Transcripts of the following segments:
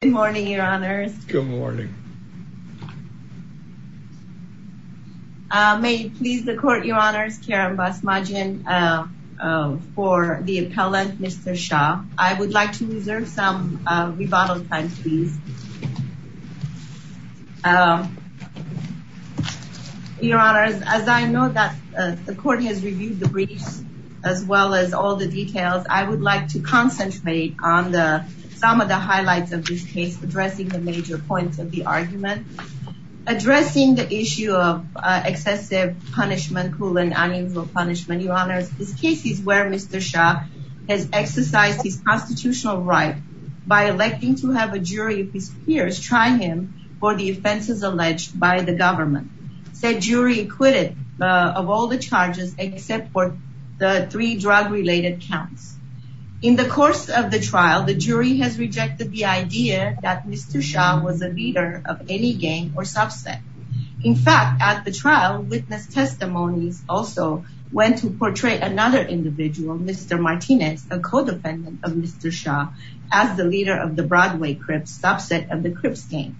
Good morning, your honors. Good morning. May you please the court your honors Karen Basmajian for the appellant, Mr. Shaw, I would like to reserve some rebuttal time please. Your honors, as I know that the court has reviewed the briefs, as well as all the details, I would like to concentrate on the some of the highlights of this case addressing the major points of the argument, addressing the issue of excessive punishment cool and unusual punishment, your honors, this case is where Mr. Shaw has exercised his constitutional right by electing to have a jury of his peers try him for the offenses alleged by the government, said jury acquitted of all the charges except for the three drug related counts. In the course of the trial, the jury has rejected the idea that Mr. Shaw was a leader of any gang or subset. In fact, at the trial witness testimonies also went to portray another individual, Mr. Martinez, a codependent of Mr. Shaw, as the leader of the Broadway Crips subset of the Crips gang.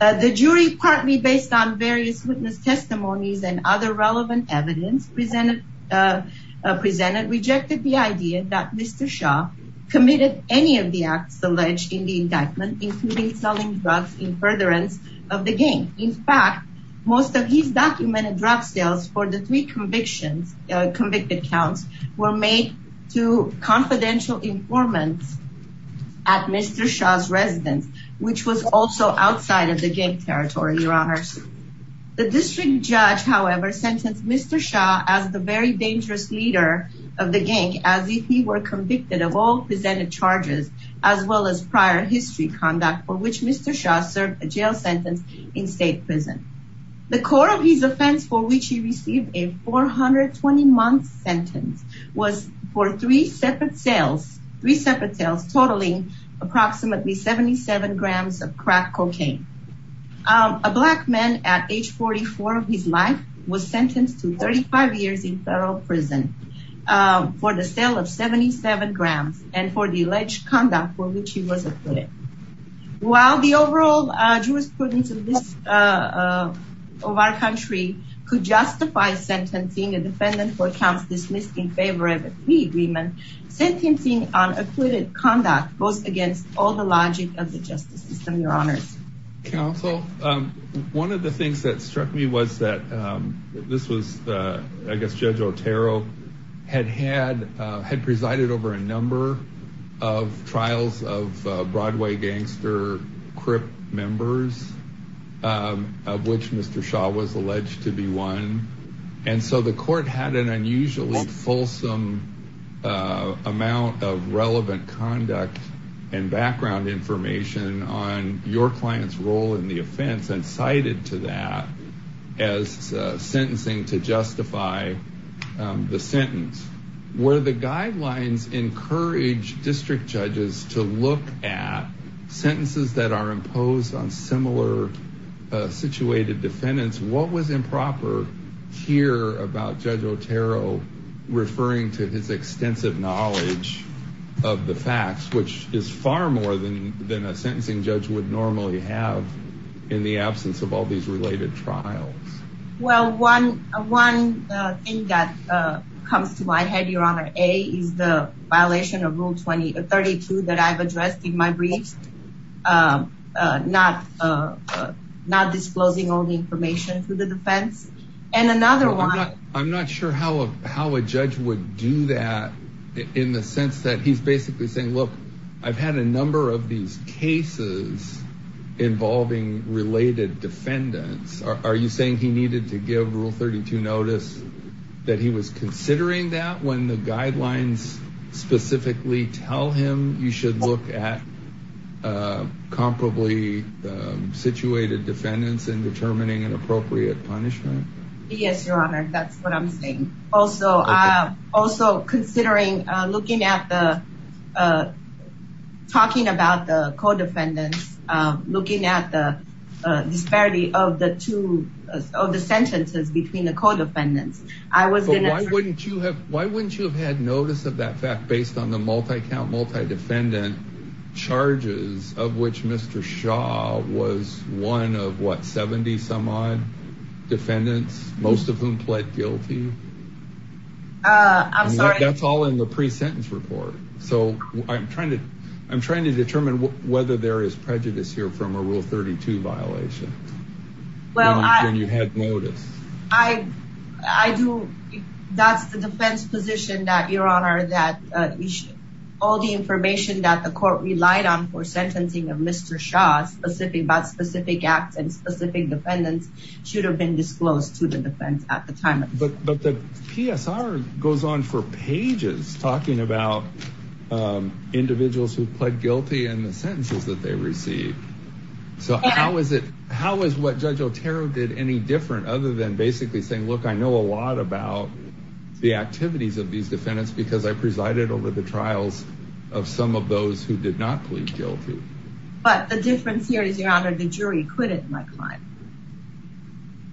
The jury partly based on various witness testimonies and other relevant evidence presented, presented rejected the idea that Mr. Shaw committed any of the acts alleged in the indictment, including selling drugs in furtherance of the game. In fact, most of these documented drug sales for the three convictions convicted counts were made to confidential informants at Mr. Shaw's residence, which was also outside of the game territory, your honors. The district judge, however, sentenced Mr. Shaw as the very dangerous leader of the charges, as well as prior history conduct for which Mr. Shaw served a jail sentence in state prison. The core of his offense for which he received a 420 month sentence was for three separate sales, three separate sales totaling approximately 77 grams of crack cocaine. A black man at age 44 of his life was sentenced to 35 years in federal prison for the sale of 77 grams and for the alleged conduct for which he was acquitted. While the overall jurisprudence of this of our country could justify sentencing a defendant for counts dismissed in favor of a three agreement, sentencing on acquitted conduct goes against all the logic of the justice system, your honors. Counsel, one of the things that struck me was that this was, I had had, uh, had presided over a number of trials of, uh, Broadway gangster crip members, um, of which Mr. Shaw was alleged to be one. And so the court had an unusually fulsome, uh, amount of relevant conduct and background information on your client's role in the offense and cited to that as, uh, sentencing to justify, um, the sentence where the guidelines encourage district judges to look at sentences that are imposed on similar, uh, situated defendants. What was improper here about judge Otero referring to his extensive knowledge of the facts, which is far more than, than a sentencing judge would normally have in the thing that, uh, comes to my head, your honor, a, is the violation of rule 20 or 32 that I've addressed in my briefs. Um, uh, not, uh, not disclosing all the information to the defense and another one, I'm not sure how, how a judge would do that in the sense that he's basically saying, look, I've had a number of these cases involving related defendants. Are you saying he that he was considering that when the guidelines specifically tell him you should look at, uh, comparably, um, situated defendants in determining an appropriate punishment? Yes, your honor. That's what I'm saying. Also, uh, also considering, uh, looking at the, uh, talking about the co-defendants, um, looking at the disparity of the two of the sentences between the co-defendants. I was going to ask, why wouldn't you have, why wouldn't you have had notice of that fact based on the multi count, multi defendant charges of which Mr. Shaw was one of what, 70 some odd defendants, most of whom pled guilty. Uh, I'm sorry. That's all in the pre-sentence report. So I'm trying to, I'm trying to determine whether there is prejudice here from a rule 32 violation. Well, you had notice. I, I do. That's the defense position that your honor, that all the information that the court relied on for sentencing of Mr. Shaw specific about specific acts and specific defendants should have been disclosed to the defense at the time. But the PSR goes on for pages talking about, um, individuals who pled guilty and the sentences that they receive. So how is it, how is what judge Otero did any different other than basically saying, look, I know a lot about the activities of these defendants because I presided over the trials of some of those who did not plead guilty. But the difference here is your honor, the jury acquitted my client.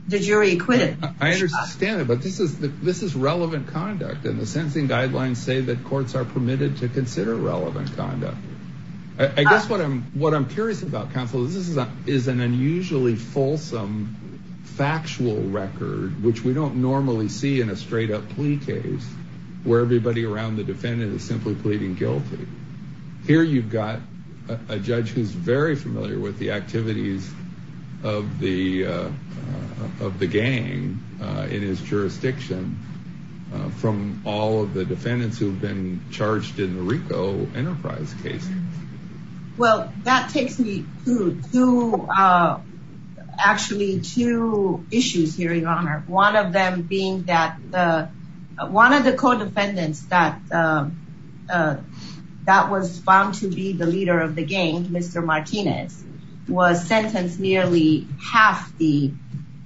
The jury acquitted. I understand it, but this is the, this is relevant conduct. And the sentencing guidelines say that courts are permitted to consider relevant conduct. I guess what I'm, what I'm curious about counsel is, this is a, is an unusually fulsome factual record, which we don't normally see in a straight up plea case where everybody around the defendant is simply pleading guilty here. You've got a judge who's very familiar with the activities of the, uh, of the gang, uh, in his jurisdiction, uh, from all of the defendants who've been charged in the Rico enterprise case. Well, that takes me to, to, uh, actually two issues here in honor. One of them being that, uh, one of the co-defendants that, uh, uh, that was found to be the leader of the gang, Mr. Martinez was sentenced nearly half the,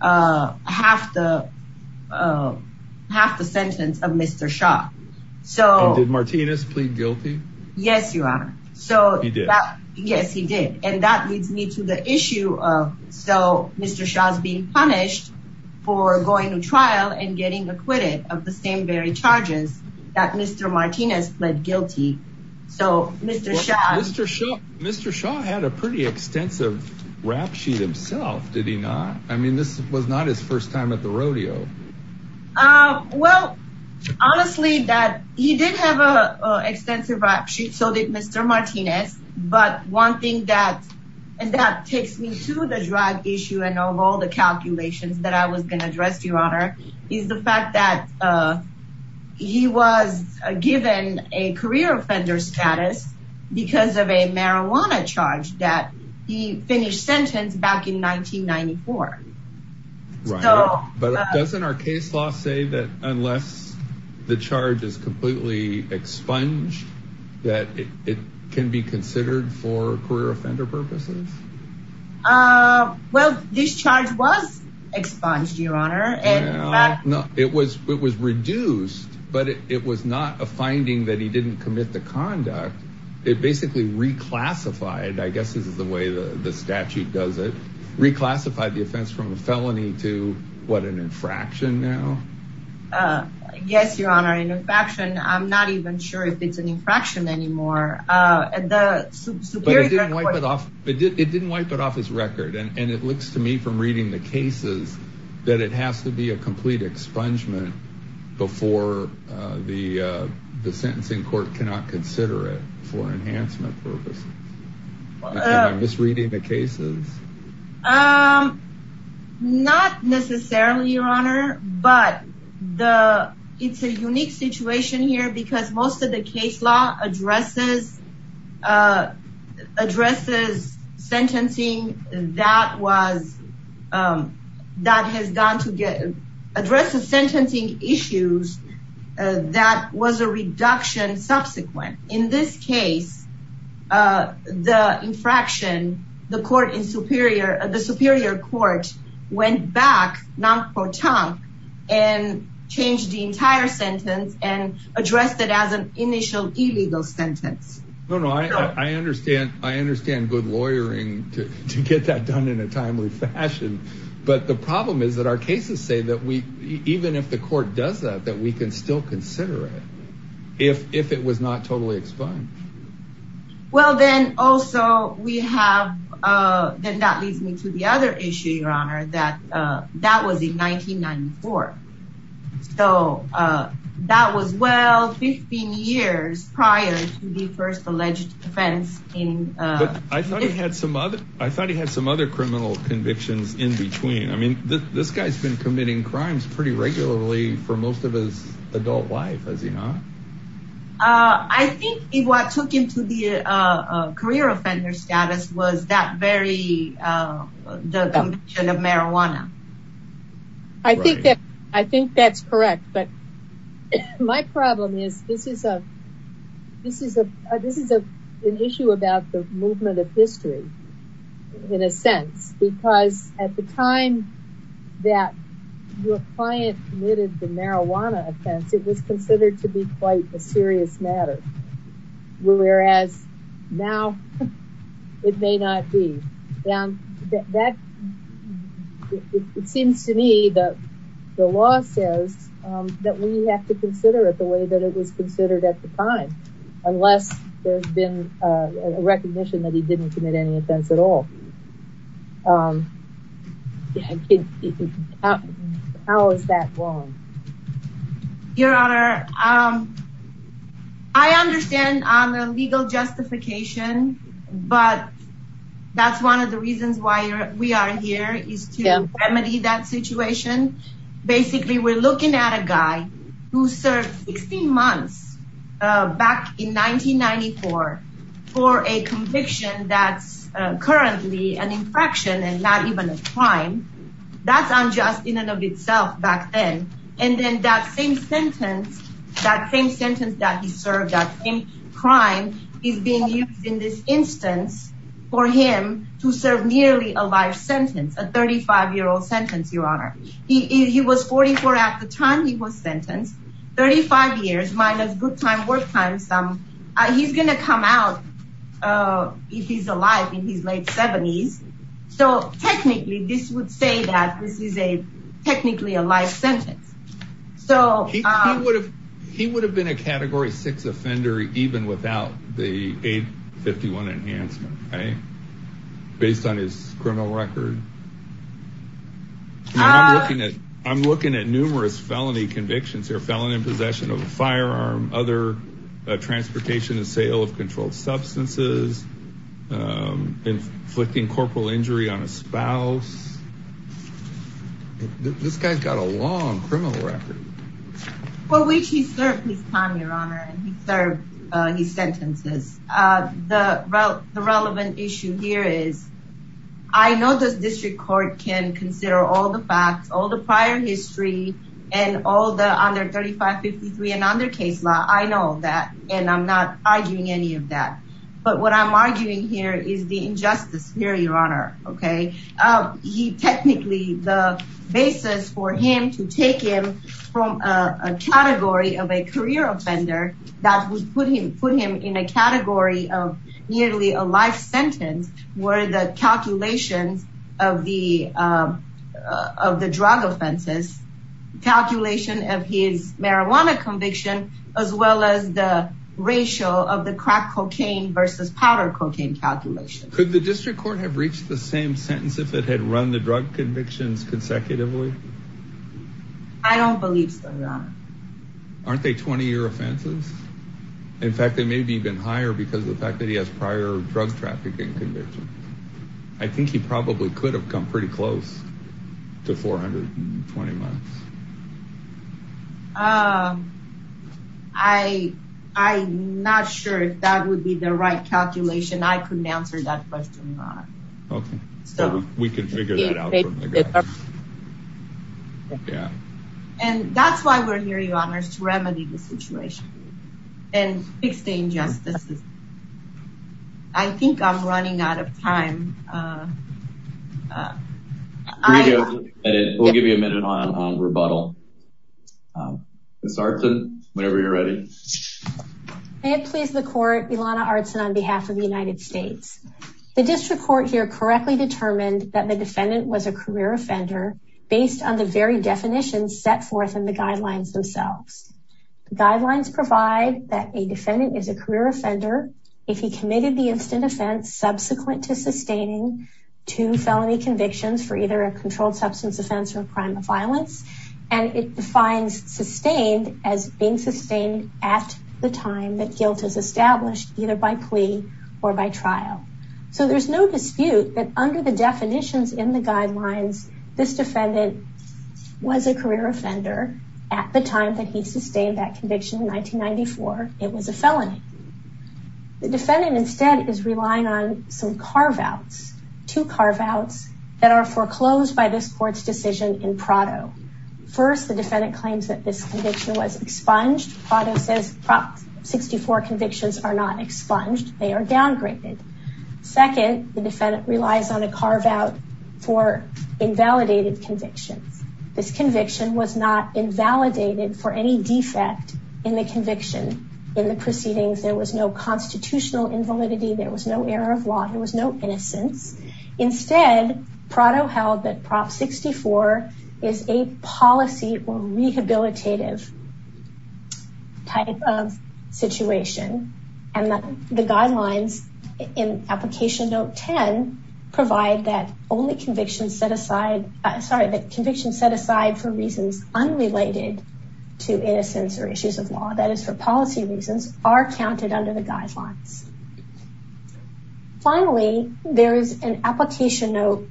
uh, half the, uh, half the sentence of Mr. Shaw. So did Martinez plead guilty? Yes, so yes, he did. And that leads me to the issue of, so Mr. Shaw is being punished for going to trial and getting acquitted of the same very charges that Mr. Martinez pled guilty. So Mr. Shaw, Mr. Shaw, Mr. Shaw had a pretty extensive rap sheet himself. Did he not? I mean, this was not his first time at the rodeo. Uh, well, honestly that he did have a extensive rap sheet. So did Mr. Martinez. But one thing that, and that takes me to the drug issue and of all the calculations that I was going to address your honor is the fact that, uh, he was given a career offender status because of a marijuana charge that he finished sentence back in 1994. But doesn't our case law say that unless the charge is that it can be considered for career offender purposes? Uh, well, this charge was expunged your honor. And it was, it was reduced, but it was not a finding that he didn't commit the conduct. It basically reclassified, I guess this is the way the statute does it reclassified the offense from the felony to what an infraction now. Uh, yes, your honor. And I'm not even sure if it's an infraction anymore. Uh, and the it did, it didn't wipe it off his record. And it looks to me from reading the cases that it has to be a complete expungement before, uh, the, uh, the sentencing court cannot consider it for enhancement purposes. I'm just reading the cases. Um, not necessarily your honor, but the, it's a unique situation here because most of the case law addresses, uh, addresses sentencing. That was, um, that has gone to get addressed the sentencing issues. Uh, that was a reduction subsequent in this case, uh, the infraction, the court in superior, the superior court went back non-proton and changed the entire sentence and addressed it as an initial illegal sentence. No, no, I, I understand. I understand good lawyering to, to get that done in a timely fashion. But the problem is that our cases say that we, even if the court does that, that we can still consider it if, if it was not totally explained. Well, then also we have, uh, then that leads me to the other issue, your honor, that, uh, that was in 1994. So, uh, that was well, 15 years prior to the first alleged offense in, uh, I thought he had some other, I thought he had some other criminal convictions in between. I mean, this guy's been committing crimes pretty regularly for most of his adult life, has he not? Uh, I think what took him to the, uh, uh, career offender status was that very, uh, the conviction of marijuana. I think that, I think that's correct, but my problem is this is a, this is a, this is a, an issue about the movement of history in a sense, because at the time that your client committed the marijuana offense, it was considered to be quite a It may not be. And that it seems to me that the law says, um, that we have to consider it the way that it was considered at the time, unless there's been a recognition that he didn't commit any offense at all. Um, how is that wrong? Your honor. Um, I understand on the legal justification, but that's one of the reasons why we are here is to remedy that situation. Basically, we're looking at a guy who served 16 months, uh, back in 1994 for a conviction that's currently an infraction and not even a crime that's unjust in and of itself back then. And then that same sentence, that same sentence that he served, that same crime is being used in this instance for him to serve nearly a life sentence, a 35 year old sentence, your honor. He, he was 44 at the time he was sentenced 35 years minus good time, work time. Some, uh, he's going to come out, uh, if he's alive in his late seventies. So technically this would say that this is a technically a life sentence. So he would have been a category six offender, even without the aid 51 enhancement, right. Based on his criminal record. I'm looking at numerous felony convictions or felon in possession of a firearm, other transportation and sale of controlled substances, um, inflicting corporal injury on a person. This guy's got a long criminal record for which he served his time, your honor. And he served his sentences. Uh, the, the relevant issue here is I know this district court can consider all the facts, all the prior history and all the under 35 53 and under case law. I know that, and I'm not arguing any of that, but what I'm arguing here is the injustice here, your okay. Um, he technically the basis for him to take him from, uh, a category of a career offender that would put him, put him in a category of nearly a life sentence where the calculations of the, uh, uh, of the drug offenses calculation of his marijuana conviction, as well as the ratio of the crack cocaine versus powder cocaine calculation. Could the district court have reached the same sentence if it had run the drug convictions consecutively? I don't believe so. Aren't they 20 year offenses? In fact, they may be even higher because of the fact that he has prior drug trafficking conviction. I think he probably could have come pretty close to 420 months. Um, I, I not sure if that would be the right calculation. I couldn't answer that question. Okay. So we can figure that out. Yeah. And that's why we're here. Your honors to remedy the situation and fix the injustices. I think I'm running out of time. Uh, uh, we'll give you a minute on rebuttal. Um, it's hard to, whenever you're ready, may it please the court Ilana Artson on behalf of the United States, the district court here correctly determined that the defendant was a career offender based on the very definitions set forth in the guidelines themselves. The guidelines provide that a defendant is a career offender. If he committed the instant offense subsequent to sustaining two felony convictions for either a controlled substance offense or a crime of violence, and it defines sustained as being sustained at the time that guilt is established either by plea or by trial. So there's no dispute that under the definitions in the guidelines, this defendant was a career offender at the time that he sustained that conviction in 1994, it was a felony. The defendant instead is relying on some carve outs to carve outs that are foreclosed by this court's decision in Prado. First, the defendant claims that this conviction was expunged. Prado says Prop 64 convictions are not expunged, they are downgraded. Second, the defendant relies on a carve out for invalidated convictions. This conviction was not invalidated for any defect in the conviction. In the proceedings, there was no constitutional invalidity, there was no error of law, there was no innocence. Instead, Prado held that Prop 64 is a policy rehabilitative type of situation, and that the guidelines in Application Note 10 provide that only convictions set aside, sorry, that convictions set aside for reasons unrelated to innocence or issues of law that is for policy reasons are counted under the guidelines. Finally, there is an Application Note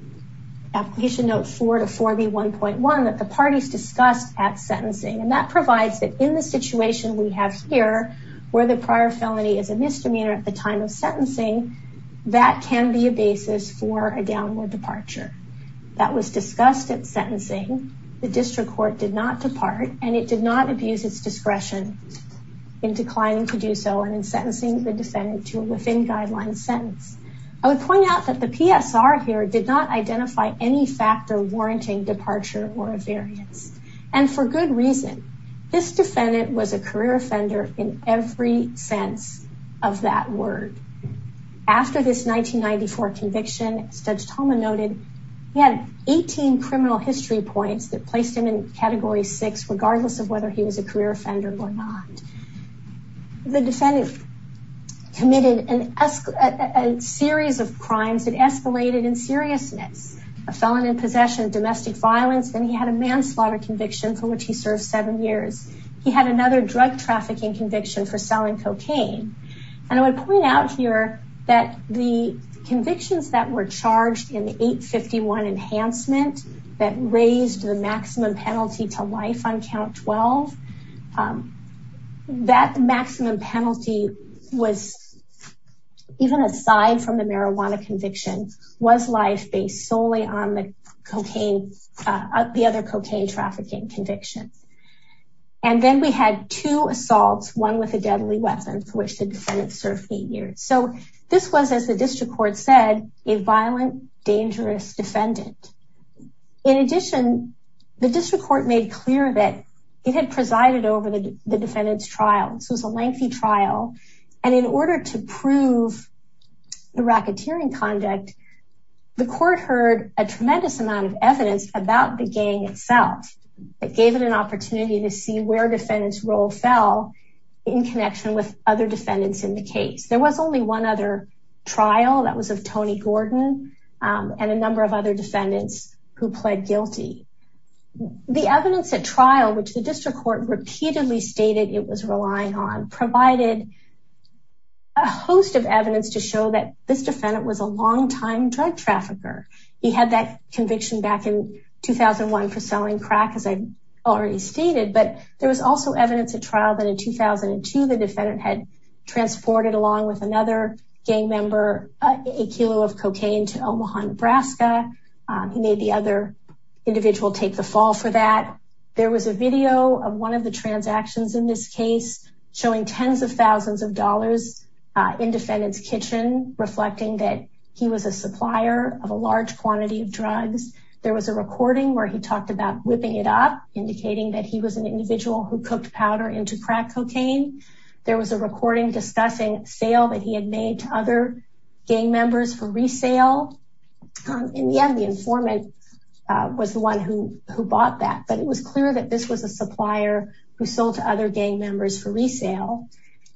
4 to 4B1.1 that the parties discussed at sentencing and that provides that in the situation we have here, where the prior felony is a misdemeanor at the time of sentencing, that can be a basis for a downward departure. That was discussed at sentencing, the district court did not depart and it did not abuse its discretion in declining to do so and in sentencing the defendant to within guidelines sentence. I would point out that the PSR here did not identify any factor warranting departure or experience. And for good reason. This defendant was a career offender in every sense of that word. After this 1994 conviction, Judge Tolman noted he had 18 criminal history points that placed him in Category 6, regardless of whether he was a career offender or not. The defendant committed a series of crimes that escalated in seriousness, a manslaughter conviction for which he served seven years. He had another drug trafficking conviction for selling cocaine. And I would point out here that the convictions that were charged in the 851 enhancement that raised the maximum penalty to life on count 12, that maximum penalty was, even aside from the marijuana conviction, was life based solely on the other cocaine trafficking conviction. And then we had two assaults, one with a deadly weapon for which the defendant served eight years. So this was, as the district court said, a violent, dangerous defendant. In addition, the district court made clear that it had presided over the defendant's trial. So it was a lengthy trial. And in order to prove the racketeering conduct, the court heard a tremendous amount of evidence about the gang itself. It gave it an opportunity to see where defendants role fell in connection with other defendants in the case. There was only one other trial that was of Tony Gordon, and a number of other defendants who pled guilty. The evidence at trial, which the district court repeatedly stated it was relying on, provided a host of evidence to show that this defendant was a longtime drug trafficker. He had that conviction back in 2001 for selling crack, as I already stated. But there was also evidence at trial that in 2002, the defendant had transported along with another gang member a kilo of cocaine to Omaha, Nebraska. He made the other individual take the fall for that. There was a video of one of the transactions in this case, showing 10s of 1000s of reflecting that he was a supplier of a large quantity of drugs. There was a recording where he talked about whipping it up, indicating that he was an individual who cooked powder into crack cocaine. There was a recording discussing sale that he had made to other gang members for resale. In the end, the informant was the one who who bought that, but it was clear that this was a supplier who sold to other gang members for resale.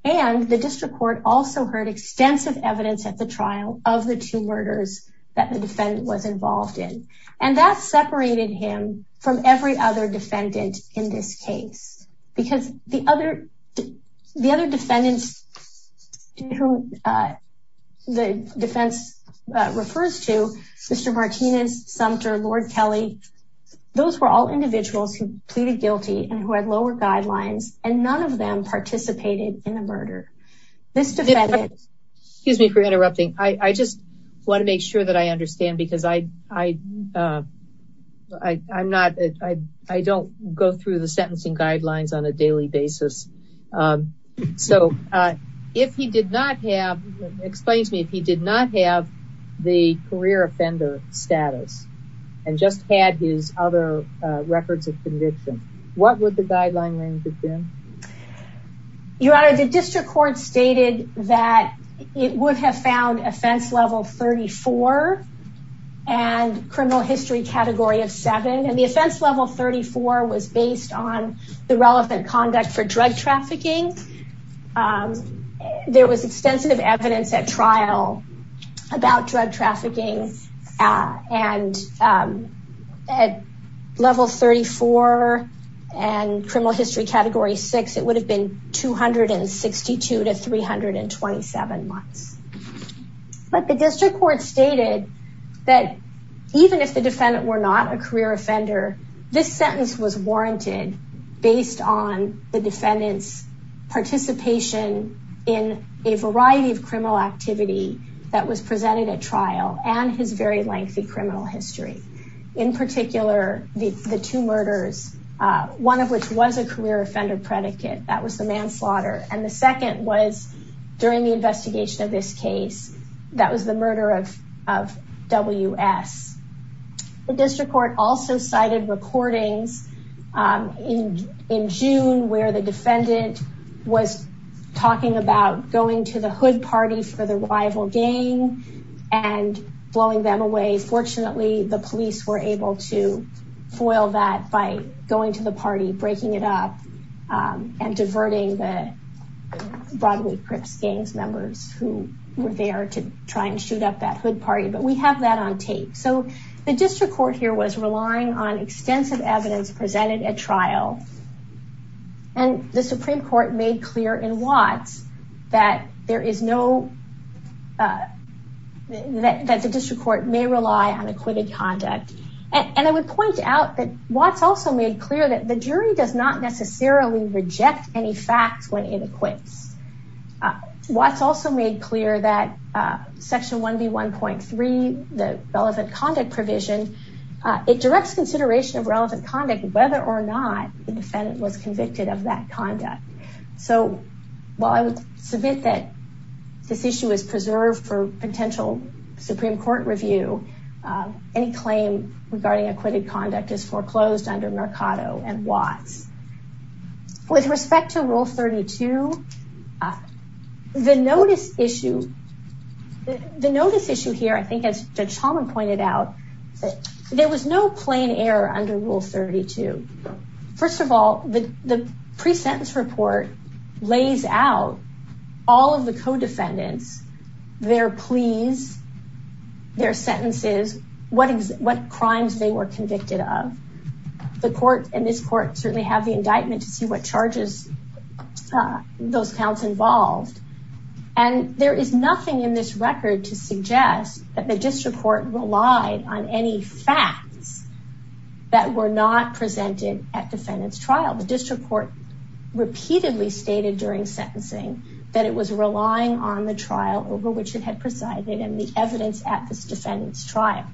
And the district court also heard extensive evidence at the trial of the two murders that the defendant was involved in. And that separated him from every other defendant in this case, because the other the other defendants to the defense refers to Mr. Martinez, Sumter, Lord Kelly, those were all individuals who pleaded guilty and who had lower guidelines, and none of them participated in a murder. This gives me for interrupting, I just want to make sure that I understand because I, I, I'm not, I don't go through the sentencing guidelines on a daily basis. So if he did not have explains me if he did not have the career offender status, and just had his other records of conviction, what would the that it would have found offense level 34. And criminal history category of seven and the offense level 34 was based on the relevant conduct for drug trafficking. There was extensive evidence at trial about drug trafficking. And at level 34. And criminal history category six, it would have been 262 to 327 months. But the district court stated that even if the defendant were not a career offender, this sentence was warranted based on the defendants participation in a variety of criminal activity that was presented at trial and his very lengthy criminal history. In particular, the two murders, one of which was a career offender predicate, that was the manslaughter. And the second was during the investigation of this case, that was the murder of WS. The district court also cited recordings in in June where the defendant was talking about going to the hood party for the rival gang and blowing them away. Fortunately, the police were able to foil that by going to the party breaking it up and diverting the Broadway Crips gang members who were there to try and shoot up that hood party. But we have that on tape. So the district court here was relying on extensive evidence presented at trial. And the Supreme Court made clear in Watts that there is no that the district court may rely on acquitted conduct. And I would point out that Watts also made clear that the jury does not necessarily reject any facts when it acquits. Watts also made clear that Section 1B 1.3, the relevant conduct provision, it directs consideration of relevant conduct whether or not the defendant was convicted of that conduct. So while I would submit that this issue is preserved for potential Supreme Court review, any claim regarding acquitted conduct is foreclosed under Mercado and Watts. With respect to Rule 32, the notice issue, the notice issue here, I think, as Judge Chalmers pointed out, there was no plain error under Rule 32. First of all, the pre-sentence report lays out all of the co-defendants, their pleas, their sentences, what crimes they were convicted of. The court and this court certainly have the indictment to see what charges those counts involved. And there is nothing in this record to suggest that the district court relied on any facts that were not presented at defendant's trial. The district court repeatedly stated during sentencing that it was relying on the trial over which it had presided and the evidence at this defendant's trial.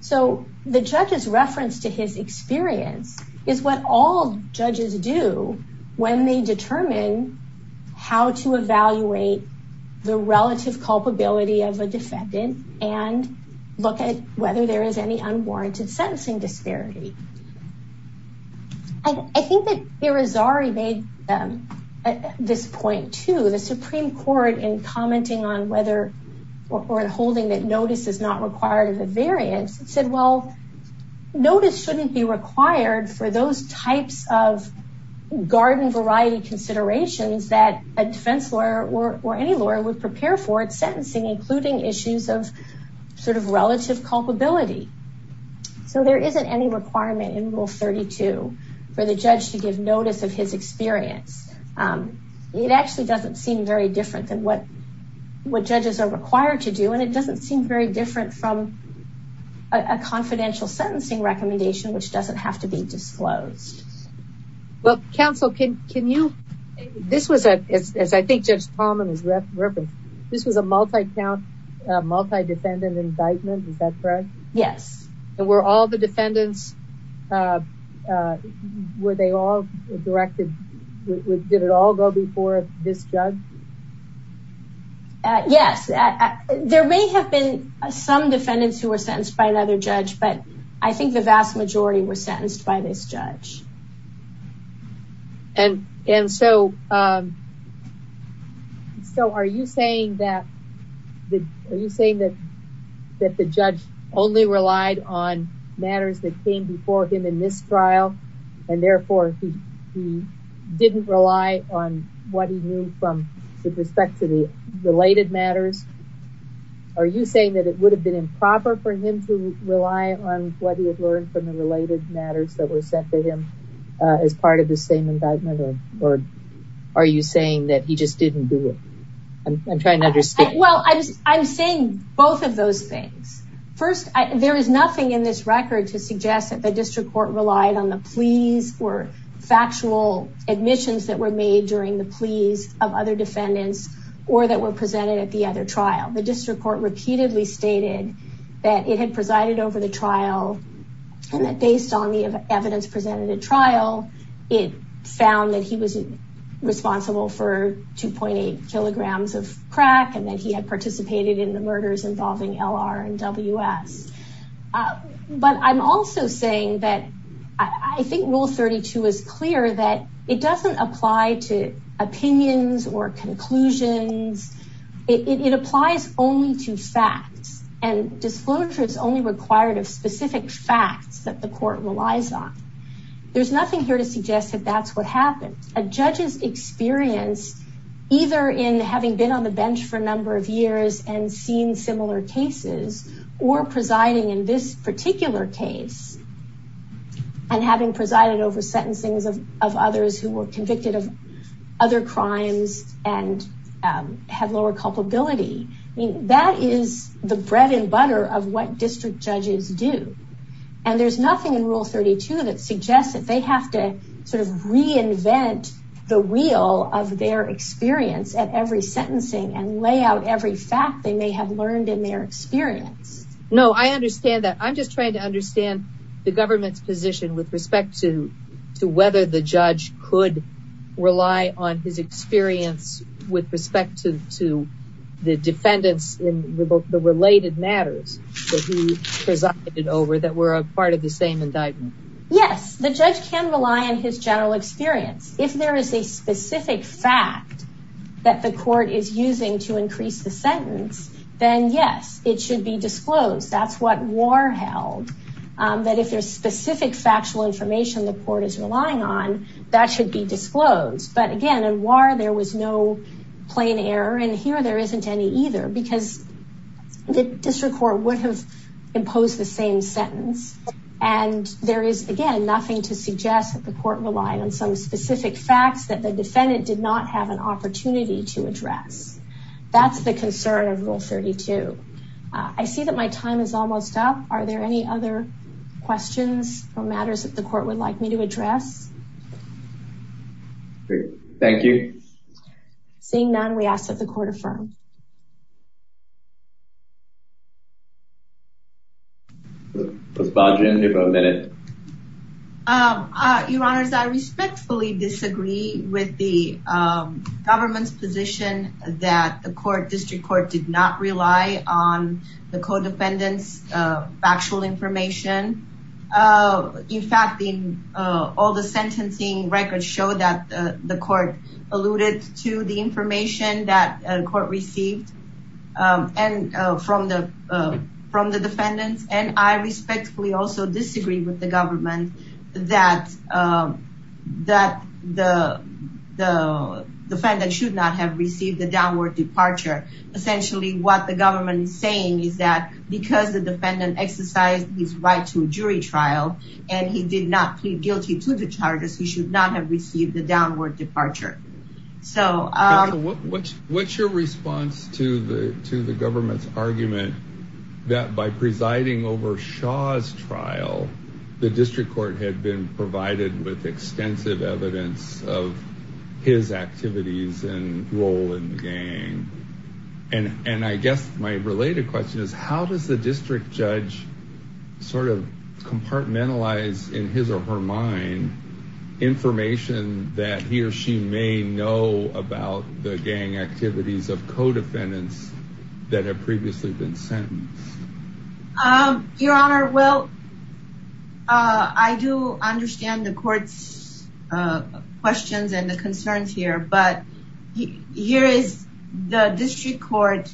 So the judge's reference to his experience is what all judges do when they determine how to evaluate the relative culpability of a defendant and look at whether there is any unwarranted sentencing disparity. I think that Irizarry made this point too. The Supreme Court in commenting on whether or in holding that notice is not required of a variance said, well, notice shouldn't be required for those types of garden variety considerations that a defense lawyer or any lawyer would prepare for at sentencing, including issues of sort of relative culpability. So there isn't any requirement in Rule 32 for the judge to give notice of his experience. It actually doesn't seem very different than what judges are required to do. And it doesn't seem very different from a confidential sentencing recommendation, which doesn't have to be disclosed. Well, counsel, can you, this was a, as I think Judge Tallman has referenced, this was a multi-count, multi-defendant indictment. Is that correct? Yes. And were all the defendants, were they all directed, did it all go before this judge? Yes. There may have been some defendants who were sentenced by another judge, but I think the vast majority were sentenced by this judge. And, and so, so are you saying that, are you saying that, that the judge only relied on matters that came before him in this indictment? Or did he rely on what he knew from, with respect to the related matters? Are you saying that it would have been improper for him to rely on what he had learned from the related matters that were sent to him as part of the same indictment? Or are you saying that he just didn't do it? I'm trying to understand. Well, I'm saying both of those things. First, there is nothing in this record to suggest that the district court relied on the pleas or factual admissions that were made during the pleas of other defendants, or that were presented at the other trial. The district court repeatedly stated that it had presided over the trial and that based on the evidence presented at trial, it found that he was responsible for 2.8 kilograms of crack and that he had participated in the murders involving LR and WS. But I'm also saying that I think Rule 32 is clear that it doesn't apply to opinions or conclusions. It applies only to facts and disclosures only required of specific facts that the court relies on. There's nothing here to suggest that that's what happened. A judge's experience, either in having been on the bench for a number of years and seen similar cases, or presiding in this particular case, and having presided over sentencings of others who were convicted of other crimes and have lower culpability, that is the bread and butter of what district judges do. And there's nothing in Rule 32 that suggests that they have to reinvent the wheel of their experience at every sentencing and lay out every fact they may have learned in their experience. No, I understand that. I'm just trying to understand the government's position with respect to whether the judge could rely on his experience with respect to the defendants in the related matters that he presided over that were a part of the same indictment. Yes, the judge can rely on his general experience. If there is a specific fact that the court is using to increase the That's what Warr held, that if there's specific factual information the court is relying on, that should be disclosed. But again, in Warr, there was no plain error, and here there isn't any either, because the district court would have imposed the same sentence. And there is, again, nothing to suggest that the court relied on some specific facts that the defendant did not have an opportunity to address. That's the concern of Rule 32. I see that my time is almost up. Are there any other questions or matters that the court would like me to address? Thank you. Seeing none, we ask that the court affirm. Ms. Bajan, you have a minute. Your Honors, I respectfully disagree with the government's that the district court did not rely on the co-defendant's factual information. In fact, all the sentencing records show that the court alluded to the information that the court received from the defendants. And I respectfully also disagree with the government that the defendant should not have received the downward departure. Essentially, what the government is saying is that because the defendant exercised his right to jury trial, and he did not plead guilty to the charges, he should not have received the downward departure. So what's your response to the government's argument that by presiding over Shaw's trial, the district court had been in the gang? And I guess my related question is, how does the district judge sort of compartmentalize in his or her mind, information that he or she may know about the gang activities of co-defendants that have previously been sentenced? Your Honor, well, I do understand the court's questions and the concerns here. But here is the district court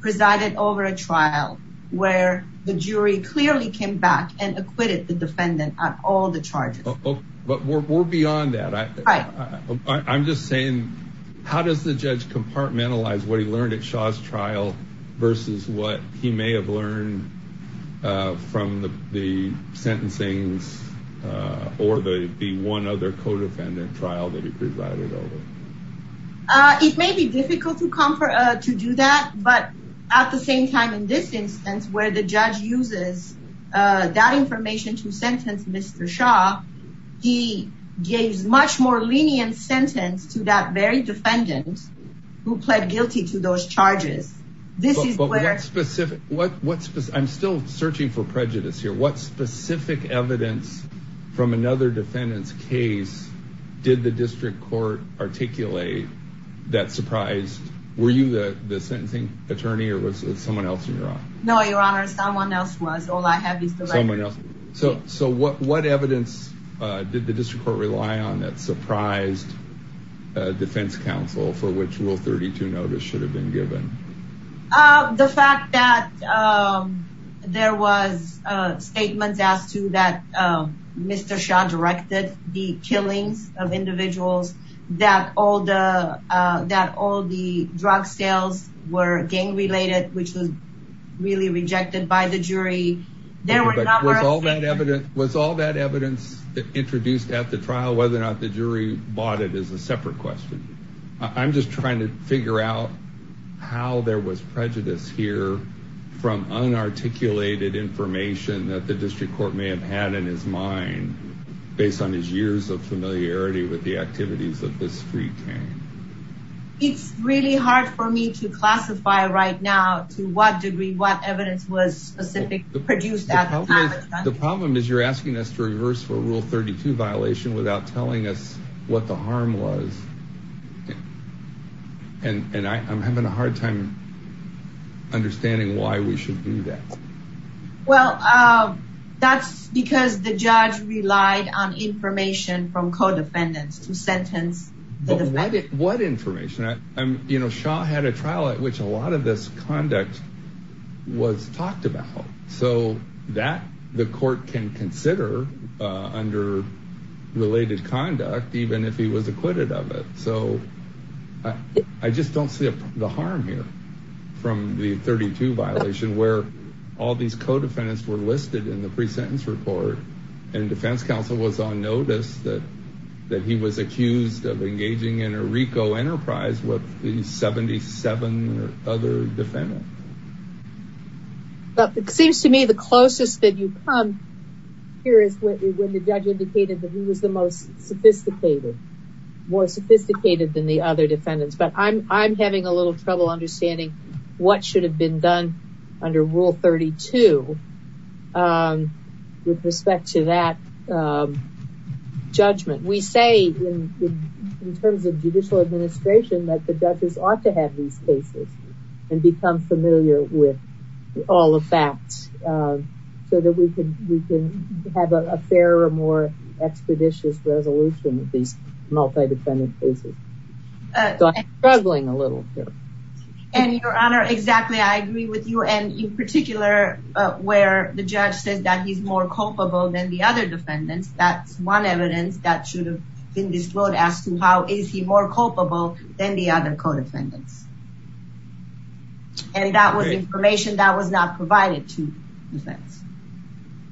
presided over a trial where the jury clearly came back and acquitted the defendant on all the charges. But we're beyond that. I'm just saying, how does the judge compartmentalize what he learned at Shaw's trial, versus what he may have learned from the sentencing or the one other co-defendant trial that he presided over? It may be difficult to do that. But at the same time, in this instance, where the judge uses that information to sentence Mr. Shaw, he gave much more lenient sentence to that very defendant who pled guilty to those charges. But what specific... I'm still searching for prejudice here. What specific evidence from another defendant's case did the district court articulate that surprised... Were you the sentencing attorney or was it someone else in your office? No, Your Honor, someone else was. All I have is the record. So what evidence did the district court rely on that surprised defense counsel for which Rule 32 notice should have been given? The fact that there was statements as to that Mr. Shaw directed the killings of individuals, that all the drug sales were gang-related, which was really rejected by the jury. There were a number of... Was all that evidence introduced at the trial, whether or not the jury bought it, is a separate question. I'm just trying to figure out how there was prejudice here from unarticulated information that the district court may have had in his mind based on his years of familiarity with the activities of the street gang. It's really hard for me to classify right now to what degree, what evidence was specific produced at the time. The problem is you're asking us to reverse for Rule 32 violation without telling us what the harm was. And I'm having a hard time understanding why we should do that. Well, that's because the judge relied on information from co-defendants to sentence the defendants. What information? Shaw had a trial at which a lot of this conduct was talked about. So that the court can consider under related conduct, even if he was acquitted of it. So I just don't see the harm here from the 32 violation where all these co-defendants were listed in the pre-sentence report and defense counsel was on notice that he was accused of engaging in a RICO enterprise with the 77 other defendants. But it seems to me the closest that you come here is when the judge indicated that he was the most sophisticated, more sophisticated than the other defendants. But I'm having a little trouble understanding what should have been done under Rule 32 with respect to that judgment. We say in terms of judicial administration that the judges ought to have these cases and become familiar with all the facts so that we can, we can have a fairer, more expeditious resolution of these multi-defendant cases. So I'm struggling a little here. And your honor, exactly. I agree with you. And in particular where the judge says that he's more culpable than the other defendants, that's one evidence that should have been disclosed as to how is he more culpable than the other co-defendants. And that was information that was not provided to defense.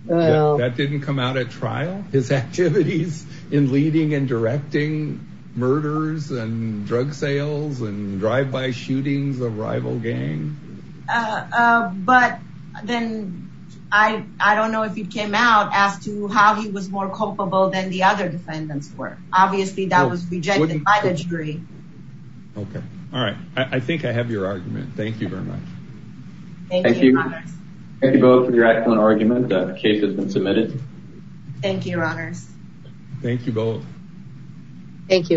That didn't come out at trial, his activities in leading and directing murders and drug sales and drive-by shootings of rival gang. Uh, uh, but then I, I don't know if it came out as to how he was more culpable than the other defendants were obviously that was rejected by the jury. Okay. All right. I think I have your argument. Thank you very much. Thank you. Thank you both for your excellent argument. That case has been submitted. Thank you, your honors. Thank you both. Thank you.